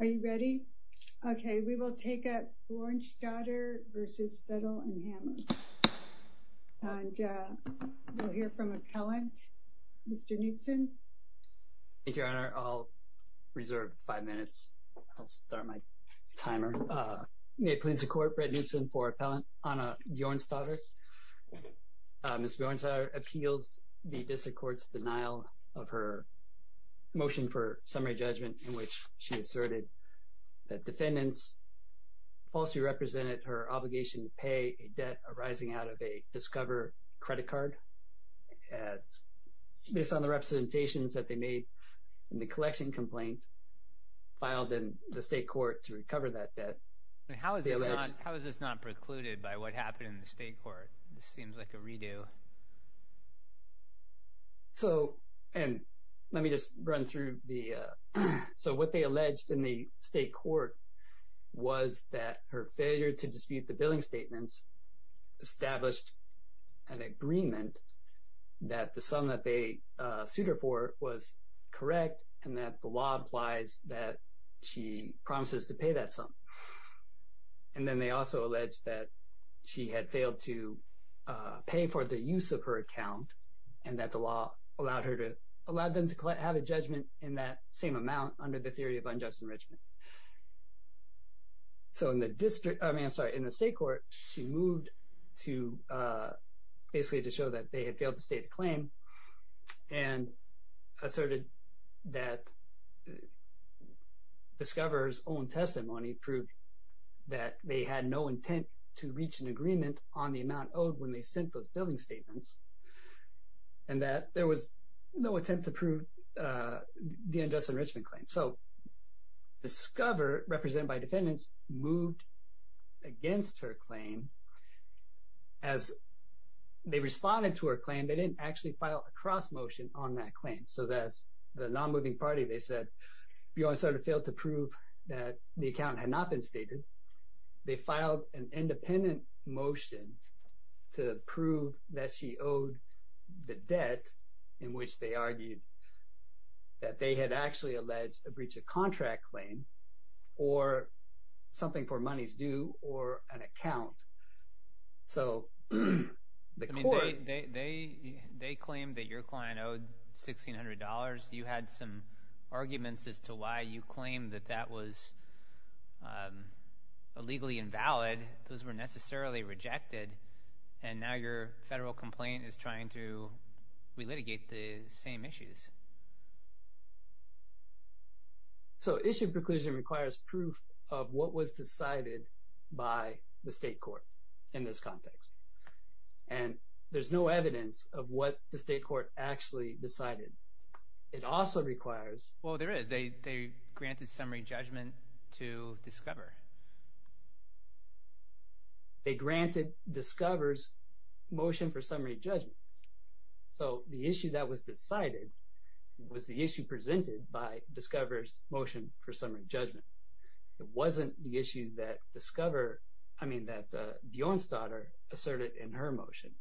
Are you ready? Okay, we will take up Bjornsdottir v. Suttell & Hammer. And we'll hear from appellant, Mr. Knutson. Thank you, Your Honor. I'll reserve five minutes. I'll start my timer. May it please the Court, Brett Knutson for Appellant Anna Bjornsdottir. Ms. Bjornsdottir appeals the District Court's denial of her motion for summary judgment in which she asserted that defendants falsely represented her obligation to pay a debt arising out of a Discover credit card. Based on the representations that they made in the collection complaint, filed in the State Court to recover that debt. How is this not precluded by what happened in the State Court? This seems like a redo. So, and let me just run through the, so what they alleged in the State Court was that her failure to dispute the billing statements established an agreement that the sum that they sued her for was correct and that the law implies that she promises to pay that sum. And then they also alleged that she had failed to pay for the use of her account and that the law allowed her to, allowed them to have a judgment in that same amount under the theory of unjust enrichment. So in the District, I mean, I'm sorry, in the State Court, she moved to basically to show that they had failed to state a claim and asserted that Discover's own testimony proved that they had no intent to reach an agreement on the amount owed when they sent those billing statements and that there was no attempt to prove the unjust enrichment claim. So Discover, represented by defendants, moved against her claim. As they responded to her claim, they didn't actually file a cross motion on that claim. So that's, the non-moving party, they said, Bjorn sort of failed to prove that the account had not been stated. They filed an independent motion to prove that she owed the debt in which they argued that they had actually alleged a breach of contract claim or something for money's due or an account. So the court- I mean, they claimed that your client owed $1,600. You had some arguments as to why you claimed that that was illegally invalid. Those were necessarily rejected. And now your federal complaint is trying to re-litigate the same issues. Right. So issue of preclusion requires proof of what was decided by the state court in this context. And there's no evidence of what the state court actually decided. It also requires- Well, there is. They granted summary judgment to Discover. They granted Discover's motion for summary judgment. So the issue that was decided was the issue presented by Discover's motion for summary judgment. It wasn't the issue that Discover- I mean, that Bjorn's daughter asserted in her motion.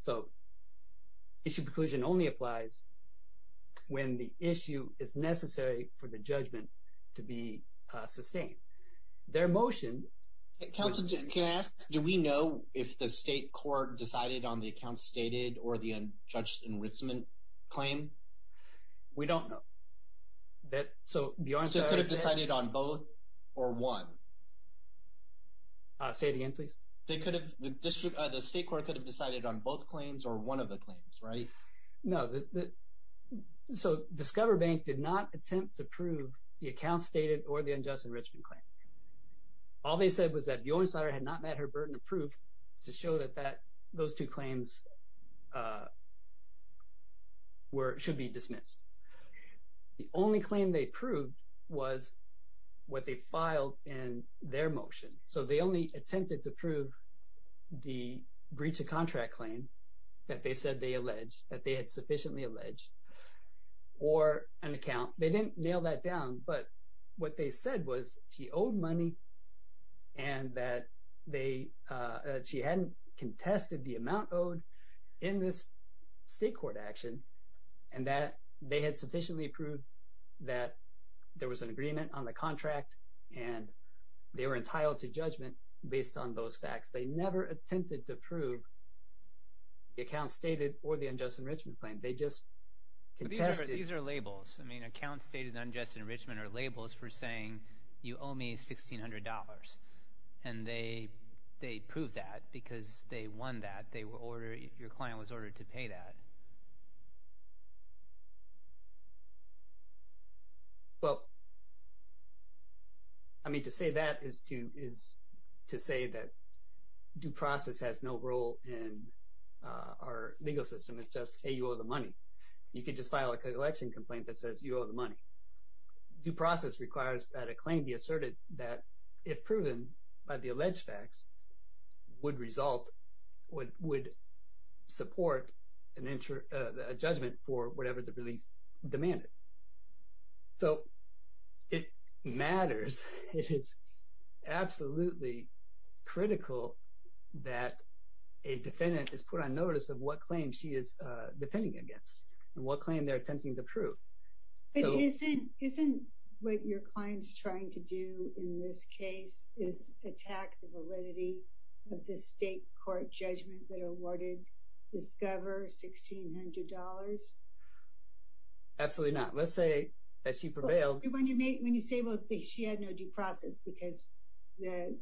So issue of preclusion only applies when the issue is necessary for the judgment to be sustained. Their motion- Counsel, can I ask, do we know if the state court decided on the account stated or the unjudged enrichment claim? We don't know. So Bjorn's daughter- So it could have decided on both or one? Say it again, please. They could have- the state court could have decided on both claims or one of the claims, right? No. So Discover Bank did not attempt to prove the account stated or the unjust enrichment claim. All they said was that Bjorn's daughter had not met her burden of proof to show that those two claims should be dismissed. The only claim they proved was what they filed in their motion. So they only attempted to prove the breach of contract claim that they said they alleged, that they had sufficiently alleged, or an account. They didn't nail that down, but what they said was she owed money and that she hadn't contested the amount owed in this state court action and that they had sufficiently proved that there was an agreement on the contract and they were entitled to judgment based on those facts. They never attempted to prove the account stated or the unjust enrichment claim. They just contested- These are labels. I mean, account stated unjust enrichment are labels for saying you owe me $1,600 and they proved that because they won that. Your client was ordered to pay that. Well, I mean, to say that is to say that due process has no role in our legal system. It's just, hey, you owe the money. You could just file a collection complaint that says you owe the money. Due process requires that a claim be asserted that if proven by the alleged facts would result, would support a judgment for whatever the relief demanded. So, it matters. It is absolutely critical that a defendant is put on notice of what claim she is defending against and what claim they're attempting to prove. But isn't what your client's trying to do in this case is attack the validity of the state court judgment that awarded Discover $1,600? Absolutely not. Let's say that she prevailed- When you say she had no due process because the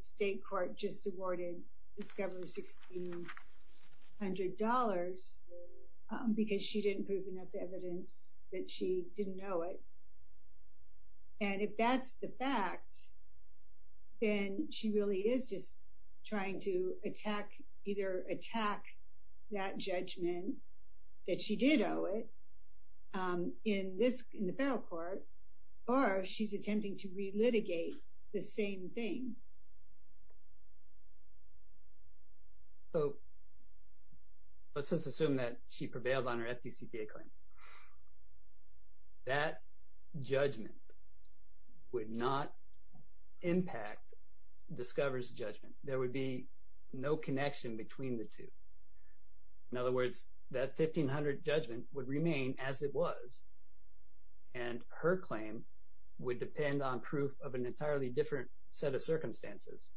state court just awarded Discover $1,600 because she didn't prove enough evidence that she didn't know it. And if that's the fact, then she really is just trying to either attack that judgment that she did owe it in the federal court, or she's attempting to re-litigate the same thing. So, let's just assume that she prevailed on her FDCPA claim. That judgment would not impact Discover's judgment. There would be no connection between the two. In other words, that $1,500 judgment would remain as it was, and her claim would depend on proof of an entirely different set of circumstances.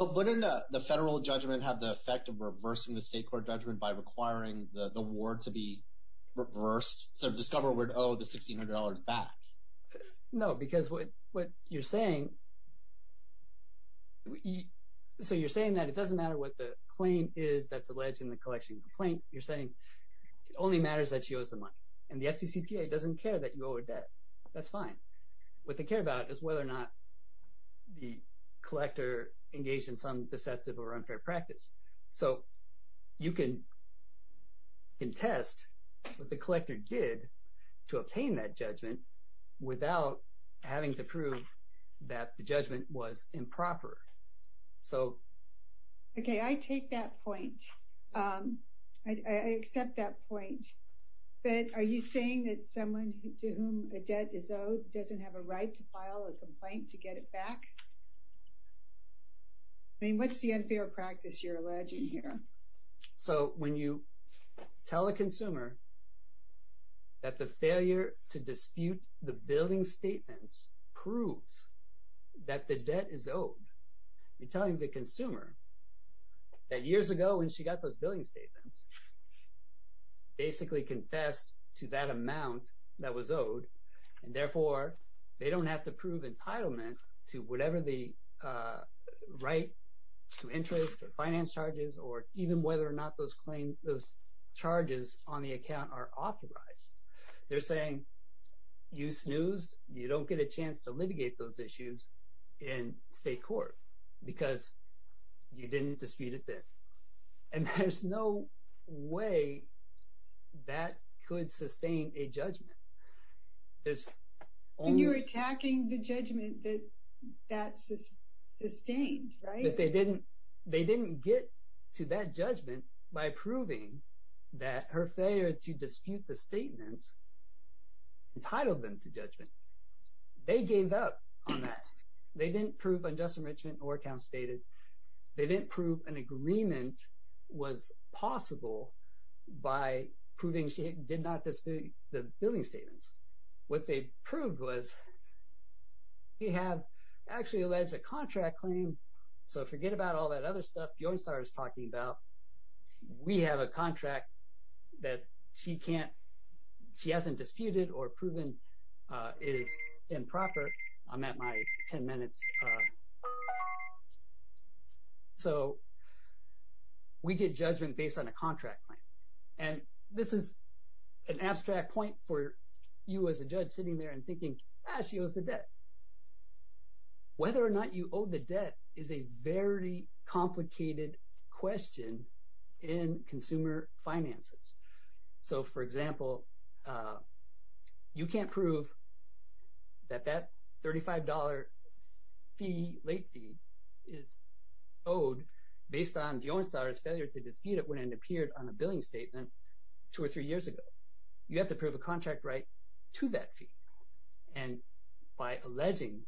Wouldn't the federal judgment have the effect of reversing the state court judgment by requiring the award to be reversed? So, Discover would owe the $1,600 back. No, because what you're saying- So, you're saying that it doesn't matter what the claim is that's alleged in the collection complaint. You're saying it only matters that she owes the money. And the FDCPA doesn't care that you owe her debt. That's fine. What they care about is whether or not the collector engaged in deceptive or unfair practice. So, you can contest what the collector did to obtain that judgment without having to prove that the judgment was improper. Okay, I take that point. I accept that point. But are you saying that someone to whom a debt is owed doesn't have a right to file a complaint to get it back? I mean, what's the unfair practice you're alleging here? So, when you tell a consumer that the failure to dispute the billing statements proves that the debt is owed, you're telling the consumer that years ago when she got those they don't have to prove entitlement to whatever the right to interest or finance charges or even whether or not those charges on the account are authorized. They're saying, you snoozed, you don't get a chance to litigate those issues in state court because you didn't dispute it then. And there's no way that could sustain a judgment. And you're attacking the judgment that that sustained, right? That they didn't get to that judgment by proving that her failure to dispute the statements entitled them to judgment. They gave up on that. They didn't prove unjust enrichment or they didn't prove an agreement was possible by proving she did not dispute the billing statements. What they proved was, we have actually alleged a contract claim. So, forget about all that other stuff Joestar is talking about. We have a contract that she hasn't disputed or proven is improper. I'm at my 10 minutes. So, we get judgment based on a contract claim. And this is an abstract point for you as a judge sitting there and thinking, ah, she owes the debt. Whether or not you owe the debt is a very complicated question in consumer finances. So, for example, you can't prove that that $35 late fee is owed based on Joestar's failure to dispute it when it appeared on a billing statement two or three years ago. You have to prove a contract right to that fee. And by alleging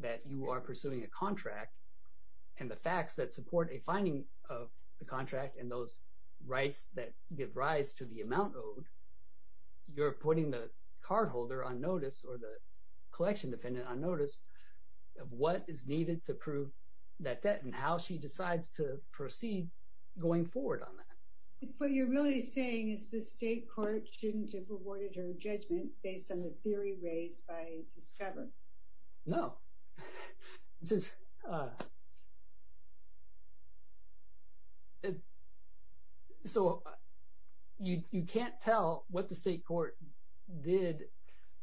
that you are pursuing a contract and the facts that rise to the amount owed, you're putting the cardholder on notice or the collection defendant on notice of what is needed to prove that debt and how she decides to proceed going forward on that. What you're really saying is the state court shouldn't have awarded her judgment based on the theory raised by Discover. No. So, you can't tell what the state court did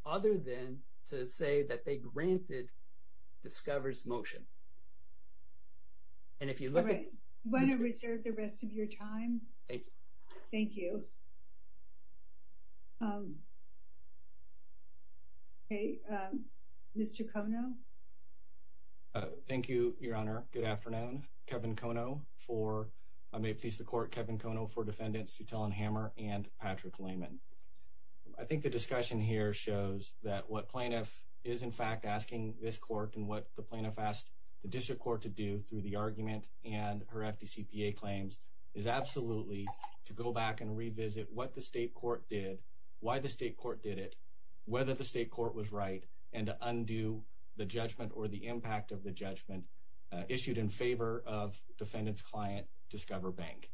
other than to say that they granted Discover's motion. And if you look at- All right. You want to reserve the rest of your time? Thank you. Thank you. Okay. Mr. Kono? Thank you, Your Honor. Good afternoon. Kevin Kono for- I may please the court, Kevin Kono for Defendants Sutell and Hammer and Patrick Lehman. I think the discussion here shows that what plaintiff is, in fact, asking this court and what the plaintiff asked the district court to do through the argument and her FDCPA claims is absolutely to go back and revisit what the state court did, why the state court did it, whether the state court was right, and to undo the judgment or the impact of the judgment issued in favor of defendant's client, Discover Bank.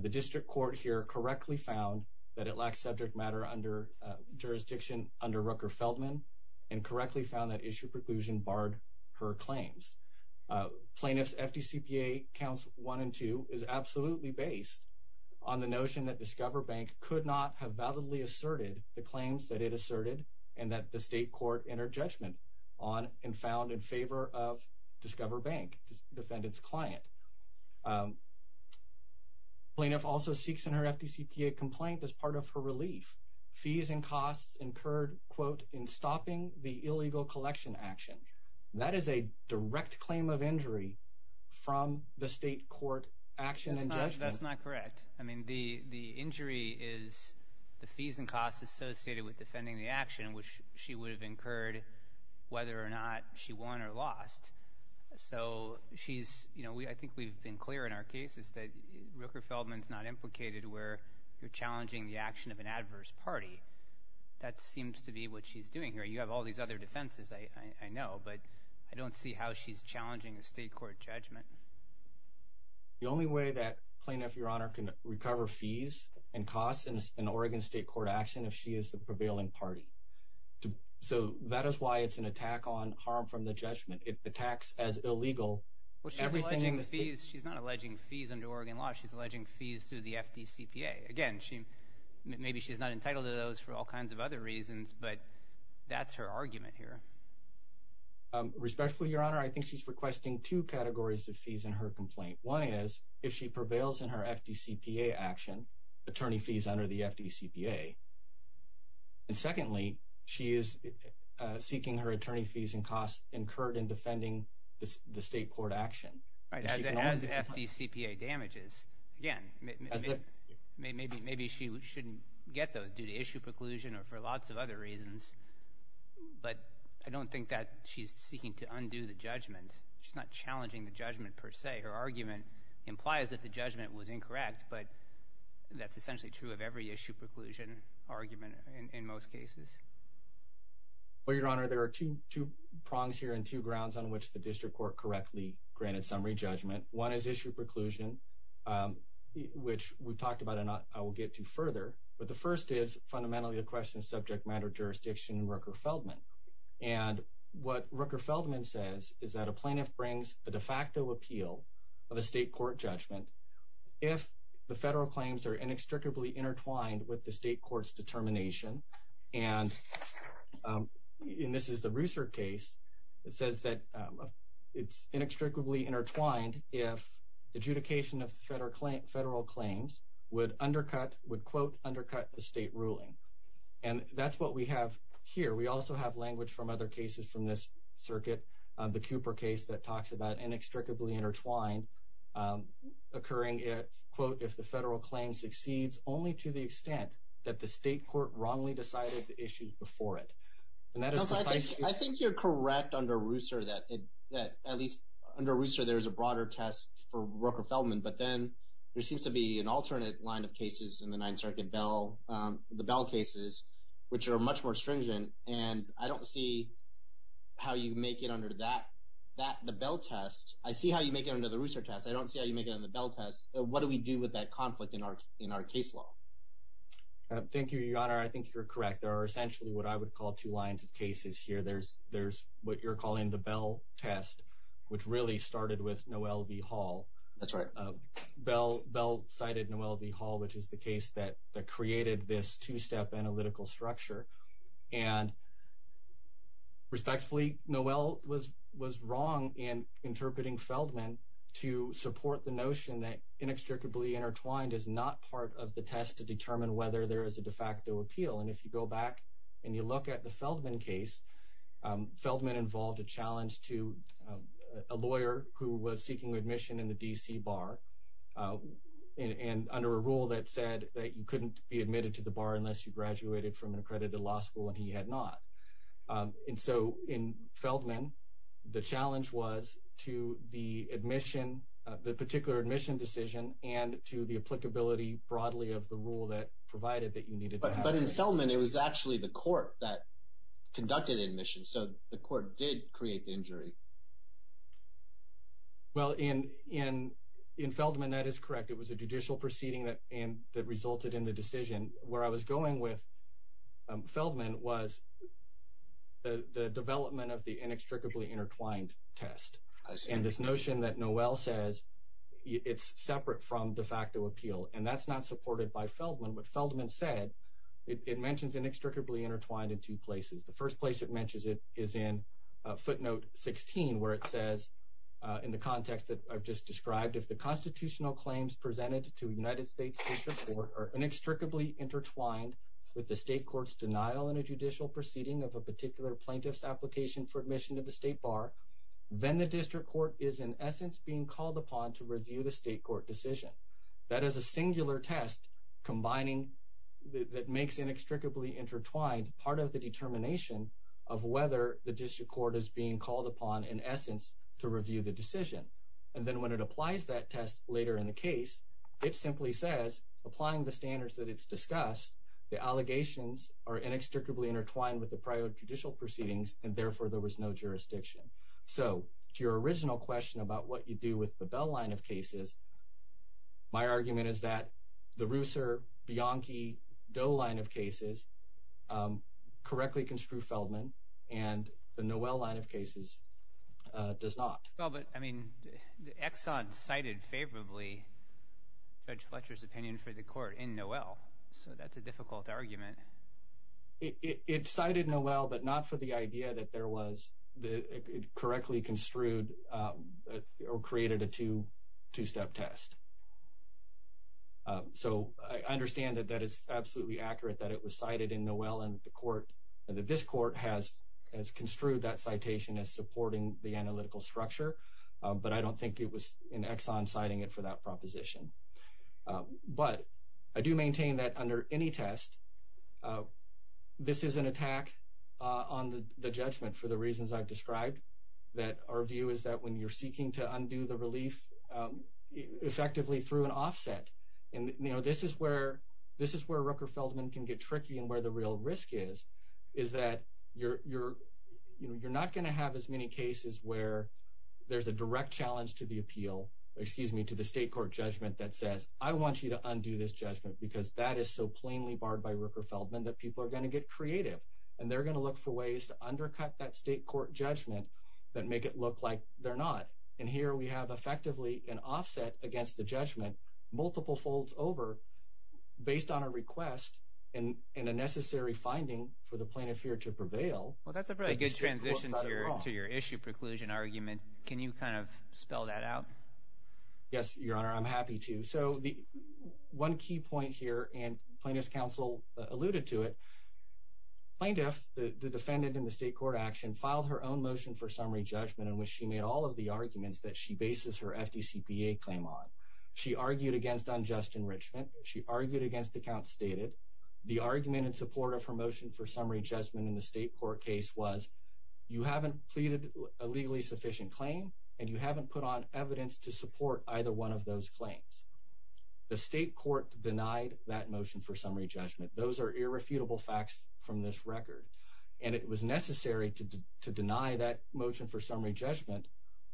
The district court here correctly found that it lacks subject matter under jurisdiction under Rooker-Feldman and correctly found that issue preclusion barred her claims. Plaintiff's FDCPA counts one and two is absolutely based on the notion that Discover Bank could not have validly asserted the claims that it asserted and that the state court entered judgment on and found in favor of Discover Bank, defendant's client. Plaintiff also seeks in her FDCPA complaint as part of her relief. Fees and costs incurred, in stopping the illegal collection action. That is a direct claim of injury from the state court action and judgment. That's not correct. The injury is the fees and costs associated with defending the action, which she would have incurred whether or not she won or lost. I think we've been clear in our cases that Rooker-Feldman's not implicated where you're all these other defenses, I know, but I don't see how she's challenging a state court judgment. The only way that plaintiff, your honor, can recover fees and costs in Oregon state court action if she is the prevailing party. So that is why it's an attack on harm from the judgment. It attacks as illegal. She's not alleging fees under Oregon law. She's alleging fees through the FDCPA. Again, maybe she's not entitled to those for all kinds of other reasons, but that's her argument here. Respectfully, your honor, I think she's requesting two categories of fees in her complaint. One is if she prevails in her FDCPA action, attorney fees under the FDCPA. And secondly, she is seeking her attorney fees and costs incurred in defending the state court action. As FDCPA damages, again, maybe she shouldn't get those due to issue preclusion or for lots of other reasons, but I don't think that she's seeking to undo the judgment. She's not challenging the judgment per se. Her argument implies that the judgment was incorrect, but that's essentially true of every issue preclusion argument in most cases. Well, your honor, there are two prongs here and two grounds on which the district court correctly granted summary judgment. One is issue preclusion, which we've talked about and I will get to further, but the first is fundamentally the question of subject matter jurisdiction in Rooker-Feldman. And what Rooker-Feldman says is that a plaintiff brings a de facto appeal of a state court judgment if the federal claims are inextricably intertwined with the state court's determination. And this is the Ruser case that says that it's inextricably intertwined if adjudication of federal claims would undercut, would quote, undercut the state ruling. And that's what we have here. We also have language from other cases from this circuit, the Cooper case that talks about inextricably intertwined occurring, quote, if the federal claim succeeds only to the extent that the state court wrongly decided the issue before it. I think you're correct under Ruser that at least under Ruser, there's a broader test for Rooker-Feldman, but then there seems to be an alternate line of cases in the Ninth Circuit, the Bell cases, which are much more stringent. And I don't see how you make it under that, the Bell test. I see how you make it under the Ruser test. I don't see how you make it in the Bell test. What do we do with that conflict in our case law? Thank you, Your Honor. I think you're correct. There are essentially what I would call two lines of cases here. There's what you're calling the Bell test, which really started with Noel V. Hall. That's right. Bell cited Noel V. Hall, which is the case that created this two-step analytical structure. And respectfully, Noel was wrong in interpreting Feldman to support the notion that inextricably intertwined is not part of the test to determine whether there is a de facto appeal. And if you back and you look at the Feldman case, Feldman involved a challenge to a lawyer who was seeking admission in the D.C. bar and under a rule that said that you couldn't be admitted to the bar unless you graduated from an accredited law school and he had not. And so in Feldman, the challenge was to the admission, the particular admission decision, and to the applicability broadly of the rule that provided that you needed to have it. But in Feldman, it was actually the court that conducted admission. So the court did create the injury. Well, in Feldman, that is correct. It was a judicial proceeding that resulted in the decision. Where I was going with Feldman was the development of the inextricably intertwined test. I see. And this notion that Noel says it's separate from de facto appeal and that's not supported by Feldman said it mentions inextricably intertwined in two places. The first place it mentions it is in footnote 16, where it says in the context that I've just described, if the constitutional claims presented to United States District Court are inextricably intertwined with the state court's denial in a judicial proceeding of a particular plaintiff's application for admission to the state bar, then the district court is in essence being called upon to review the state court decision. That is a singular test combining that makes inextricably intertwined part of the determination of whether the district court is being called upon in essence to review the decision. And then when it applies that test later in the case, it simply says applying the standards that it's discussed, the allegations are inextricably intertwined with the prior judicial proceedings and therefore there was no jurisdiction. So to your original question about what you do with the my argument is that the Reusser, Bianchi, Doe line of cases correctly construe Feldman and the Noel line of cases does not. Well but I mean the Exxon cited favorably Judge Fletcher's opinion for the court in Noel, so that's a difficult argument. It cited Noel but not for the idea that there was the correctly construed or created a two step test. So I understand that that is absolutely accurate that it was cited in Noel and the court and that this court has construed that citation as supporting the analytical structure, but I don't think it was in Exxon citing it for that proposition. But I do maintain that under any test, this is an attack on the judgment for the reasons I've effectively through an offset and you know this is where this is where Rooker-Feldman can get tricky and where the real risk is, is that you're not going to have as many cases where there's a direct challenge to the appeal, excuse me, to the state court judgment that says I want you to undo this judgment because that is so plainly barred by Rooker-Feldman that people are going to get creative and they're going to look for ways to undercut that state court judgment that make it look like they're not. And here we have effectively an offset against the judgment multiple folds over based on a request and in a necessary finding for the plaintiff here to prevail. Well that's a really good transition to your to your issue preclusion argument. Can you kind of spell that out? Yes your honor I'm happy to. So the one key point here and plaintiff's counsel alluded to it, plaintiff the defendant in the state court action filed her own motion for summary judgment in which she made all of the arguments that she bases her FDCPA claim on. She argued against unjust enrichment, she argued against accounts stated, the argument in support of her motion for summary judgment in the state court case was you haven't pleaded a legally sufficient claim and you haven't put on evidence to support either one of those claims. The state court denied that motion for from this record and it was necessary to to deny that motion for summary judgment.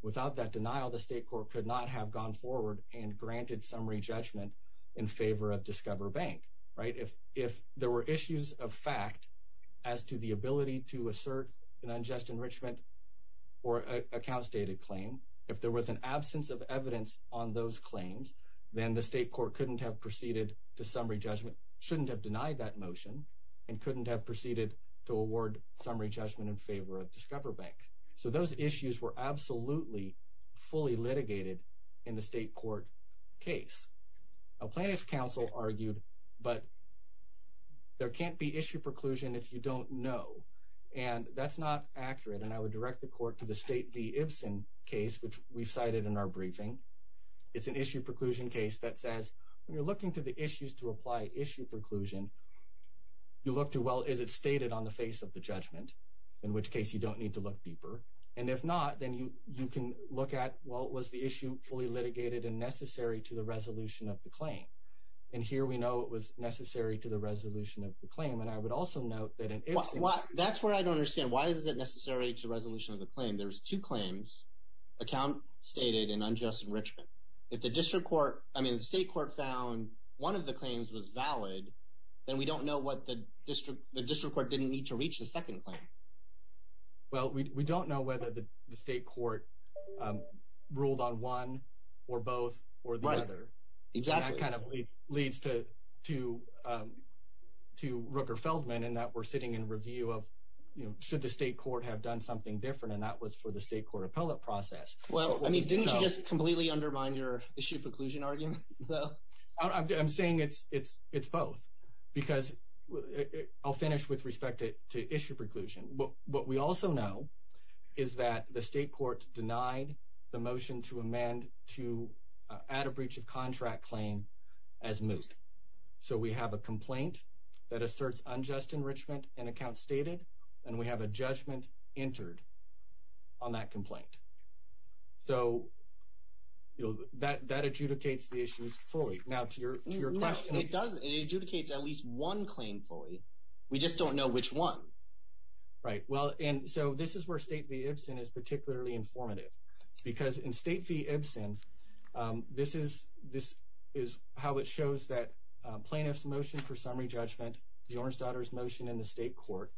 Without that denial the state court could not have gone forward and granted summary judgment in favor of discover bank right. If if there were issues of fact as to the ability to assert an unjust enrichment or accounts dated claim if there was an absence of evidence on those claims then the state court couldn't have proceeded to summary judgment, shouldn't have denied that motion and couldn't have proceeded to award summary judgment in favor of discover bank. So those issues were absolutely fully litigated in the state court case. A plaintiff's counsel argued but there can't be issue preclusion if you don't know and that's not accurate and I would direct the court to the state case which we've cited in our briefing. It's an issue preclusion case that says when you're looking to the issues to apply issue preclusion you look to well is it stated on the face of the judgment in which case you don't need to look deeper and if not then you you can look at well it was the issue fully litigated and necessary to the resolution of the claim and here we know it was necessary to the resolution of the claim and I would also note that in that's where I don't understand why is it necessary to resolution of the claim. There's two claims account stated in unjust enrichment. If the district court I mean the state court found one of the claims was valid then we don't know what the district the district court didn't need to reach the second claim. Well we don't know whether the state court ruled on one or both or the other. Exactly. That kind leads to to to Rooker Feldman and that we're sitting in review of you know should the state court have done something different and that was for the state court appellate process. Well I mean didn't you just completely undermine your issue preclusion argument though? I'm saying it's it's it's both because I'll finish with respect to issue preclusion but what we also know is that the state court denied the motion to amend to add a breach of contract claim as moved. So we have a complaint that asserts unjust enrichment and account stated and we have a judgment entered on that complaint. So you know that that adjudicates the issues fully now to your to your question. It does it adjudicates at least one claim fully we just don't know which one. Right well and so this is where State v. Ibsen is particularly informative because in State v. Ibsen this is this is how it shows that plaintiff's motion for summary judgment the orange daughter's motion in the state court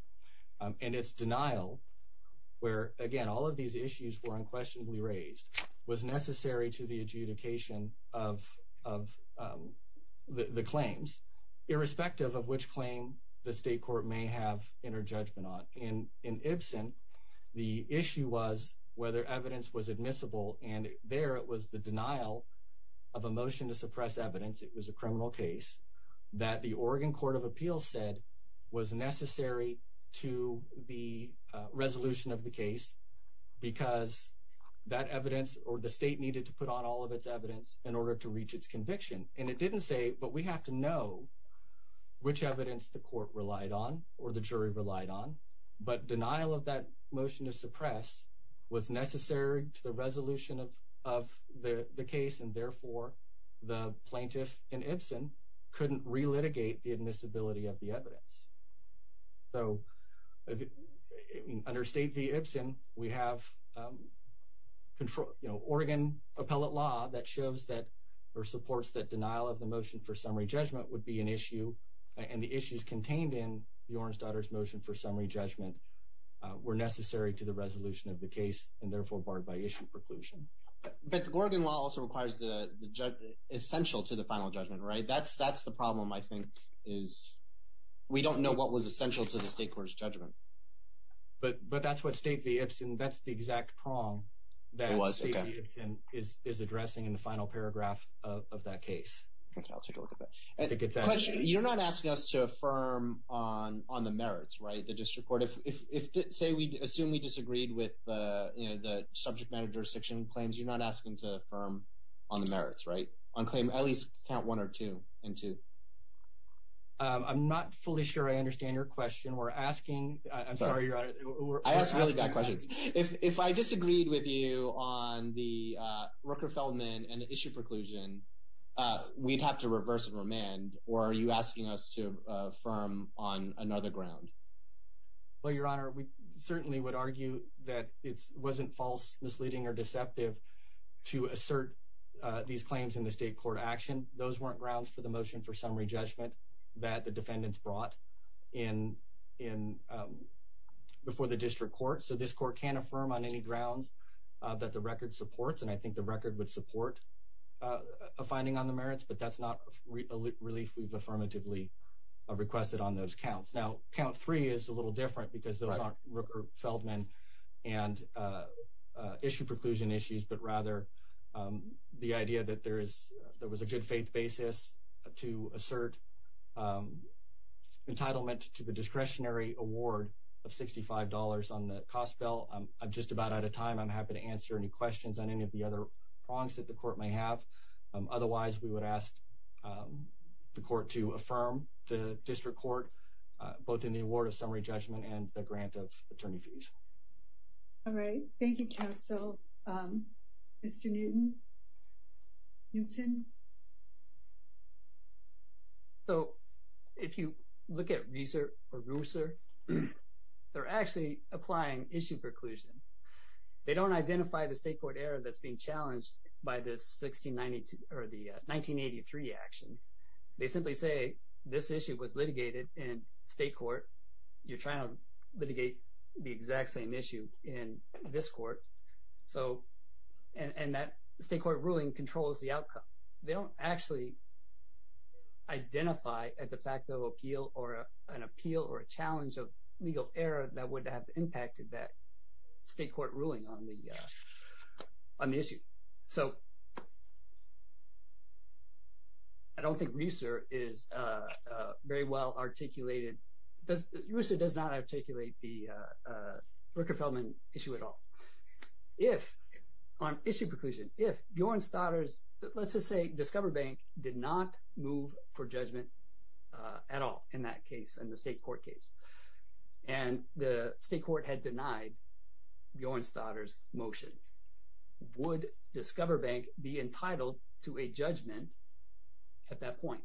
and its denial where again all of these issues were unquestionably raised was necessary to the adjudication of of the claims irrespective of which claim the state in in Ibsen the issue was whether evidence was admissible and there it was the denial of a motion to suppress evidence it was a criminal case that the Oregon Court of Appeals said was necessary to the resolution of the case because that evidence or the state needed to put on all of its evidence in order to reach its conviction and it didn't say but we have to know which evidence the court relied on or the jury relied on but denial of that motion to suppress was necessary to the resolution of of the the case and therefore the plaintiff in Ibsen couldn't re-litigate the admissibility of the evidence. So under State v. Ibsen we have control you know Oregon appellate law that shows that or supports that denial of the motion for summary judgment would be an issue and the issues contained in the orange daughter's motion for summary judgment were necessary to the resolution of the case and therefore barred by issue preclusion. But Oregon law also requires the the judge essential to the final judgment right that's that's the problem I think is we don't know what was essential to the state court's judgment. But but that's what State v. Ibsen that's the exact prong that was is addressing in the final paragraph of that case. Okay I'll take a look at that. You're not asking us to affirm on on the merits right the district court if if say we assume we disagreed with the you know the subject manager section claims you're not asking to affirm on the merits right on claim at least count one or two and two. I'm not fully sure I understand your question we're asking I'm sorry your honor I would argue that it's wasn't false misleading or deceptive to assert these claims in the state court action. Those weren't grounds for the motion for summary judgment that the defendants brought in in before the district court. So this court can't affirm on any grounds that the record supports and I think the record would support the motion for summary judgment. A finding on the merits but that's not a relief we've affirmatively requested on those counts. Now count three is a little different because those aren't Rooker Feldman and issue preclusion issues but rather the idea that there is there was a good faith basis to assert entitlement to the discretionary award of $65 on the cost bill. I'm just about out of time I'm happy to answer any questions on any of the other prongs that the court may have otherwise we would ask the court to affirm the district court both in the award of summary judgment and the grant of attorney fees. All right thank you counsel. Mr. Newton. So if you look at Reaser or Rooser they're actually applying issue preclusion. They don't identify the state court error that's being challenged by this 1983 action. They simply say this issue was litigated in state court you're trying to litigate the exact same issue in this court so and that state court ruling controls the outcome. They don't actually identify a de facto appeal or an appeal or a challenge of legal error that would have impacted that state court ruling on the issue. So I don't think Reaser is very well articulated. Reaser does not articulate the Rooker Feldman issue at all. If on issue preclusion if Bjornstadter's let's just say Discover Bank did not move for judgment at all in that case in the state court case and the state court had denied Bjornstadter's motion would Discover Bank be entitled to a judgment at that point.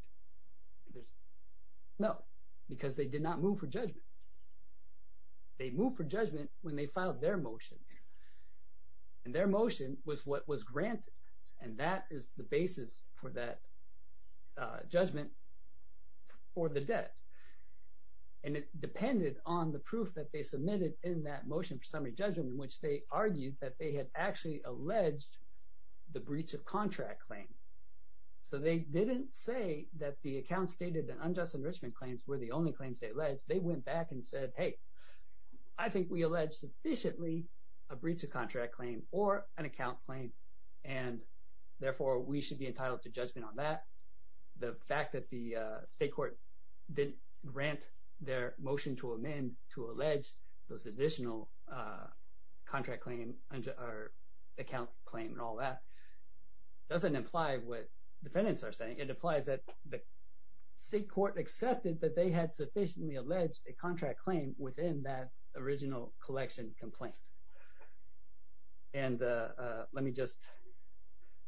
There's no because they did not move for judgment. They moved for judgment when they filed their motion and their motion was what was granted and that is the basis for that judgment for the debt and it depended on the proof that they submitted in that motion for summary judgment in which they argued that they had actually alleged the breach of contract claim. So they didn't say that the account stated that unjust enrichment claims were the only claims they alleged. They went back and said hey I think we alleged sufficiently a breach of contract claim or an account claim and therefore we should be entitled to judgment on that. The fact that the state court didn't grant their motion to amend to allege those additional contract claim or account claim and all that doesn't imply what defendants are saying. It implies that the state court accepted that they had sufficiently alleged a contract claim within that original collection complaint and let me just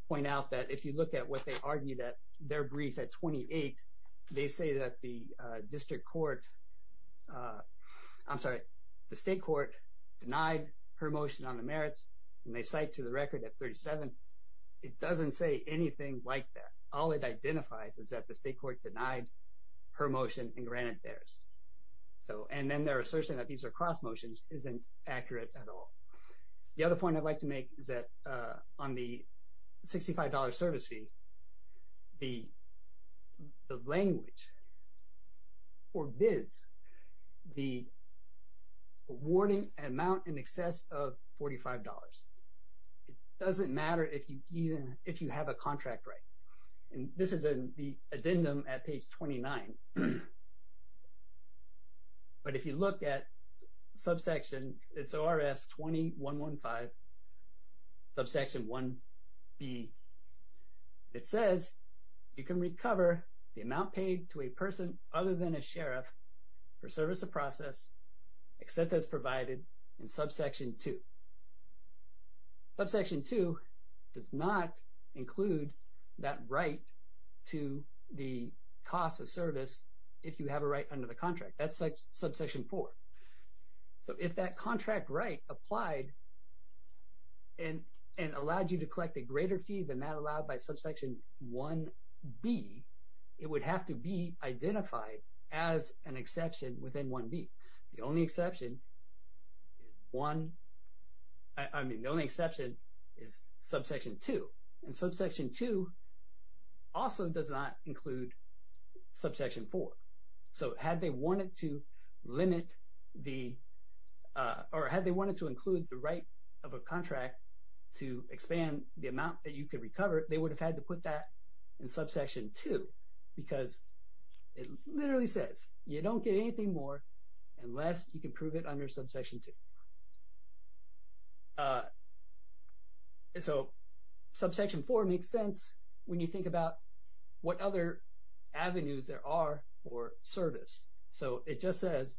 point out that if you look at what they argue that their brief at 28, they say that the district court, I'm sorry, the state court denied her motion on the merits and they cite to the record at 37. It doesn't say anything like that. All it identifies is that the state court denied her motion and granted theirs. So and then their assertion that these are cross motions isn't accurate at all. The other point I'd like to make is that on the $65 service fee, the language forbids the awarding amount in excess of $45. It doesn't matter if you even if you have a $45. But if you look at subsection, it's ORS 2115, subsection 1B. It says you can recover the amount paid to a person other than a sheriff for service of process except as provided in subsection 2 does not include that right to the cost of service if you have a right under the contract. That's like subsection 4. So if that contract right applied and allowed you to collect a greater fee than that allowed by subsection 1B, it would have to be identified as an exception within 1B. The only exception is subsection 2. And subsection 2 also does not include subsection 4. So had they wanted to include the right of a contract to expand the amount that you could recover, they would have had to put that in subsection 2 because it literally says you don't get anything more unless you can prove it under subsection 2. So subsection 4 makes sense when you think about what other avenues there are for service. So it just says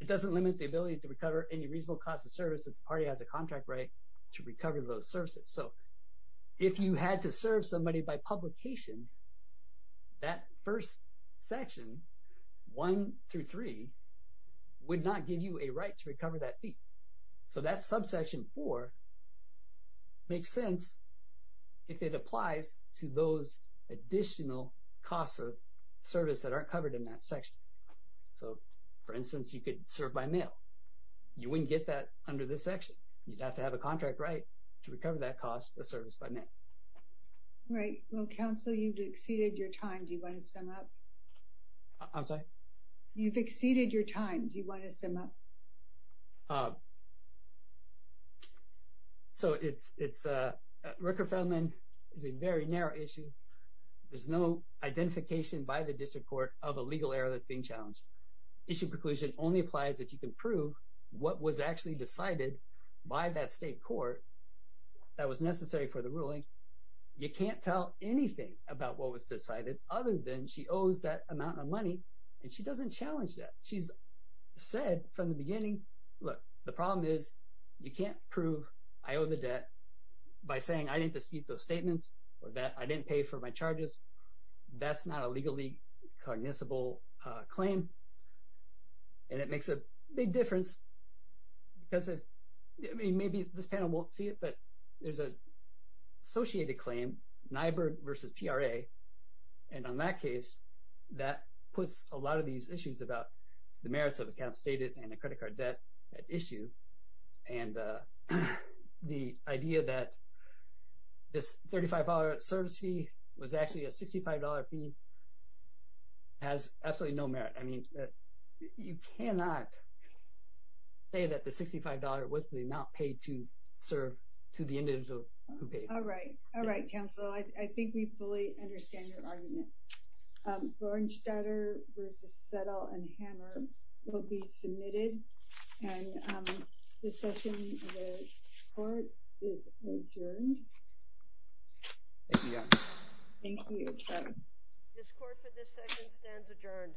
it doesn't limit the ability to recover any reasonable cost of service if the party has a contract right to recover those services. So if you had to serve somebody by publication, that first section, 1 through 3, would not give you a right to recover that fee. So that subsection 4 makes sense if it applies to those additional costs of service that aren't covered in that section. So for instance, you could serve by mail. You wouldn't get that under this section. You'd have to have a contract right to recover that cost of service by mail. Right. Well, Counselor, you've exceeded your time. Do you want to sum up? I'm sorry? You've exceeded your time. Do you want to sum up? So it's a very narrow issue. There's no identification by the district court of a legal error that's being challenged. Issue preclusion only applies if you can prove what was actually decided by that state court that was necessary for the ruling. You can't tell anything about what was decided other than she owes that amount of money, and she doesn't challenge that. She's said from the beginning, look, the problem is you can't prove I owe the debt by saying I didn't dispute those statements or that I didn't pay for my costs. Maybe this panel won't see it, but there's an associated claim, Nyberg versus PRA, and on that case, that puts a lot of these issues about the merits of accounts stated and a credit card debt at issue. And the idea that this $35 service fee was actually a $65 fee has absolutely no merit. I mean, you cannot say that the $65 was the amount paid to serve to the individual who paid. All right. All right, counsel. I think we fully understand your argument. Gornstetter versus Settle and Hammer will be submitted, and the session of the court is adjourned. Thank you, Your Honor. Thank you, Your Honor. This court for this session stands adjourned.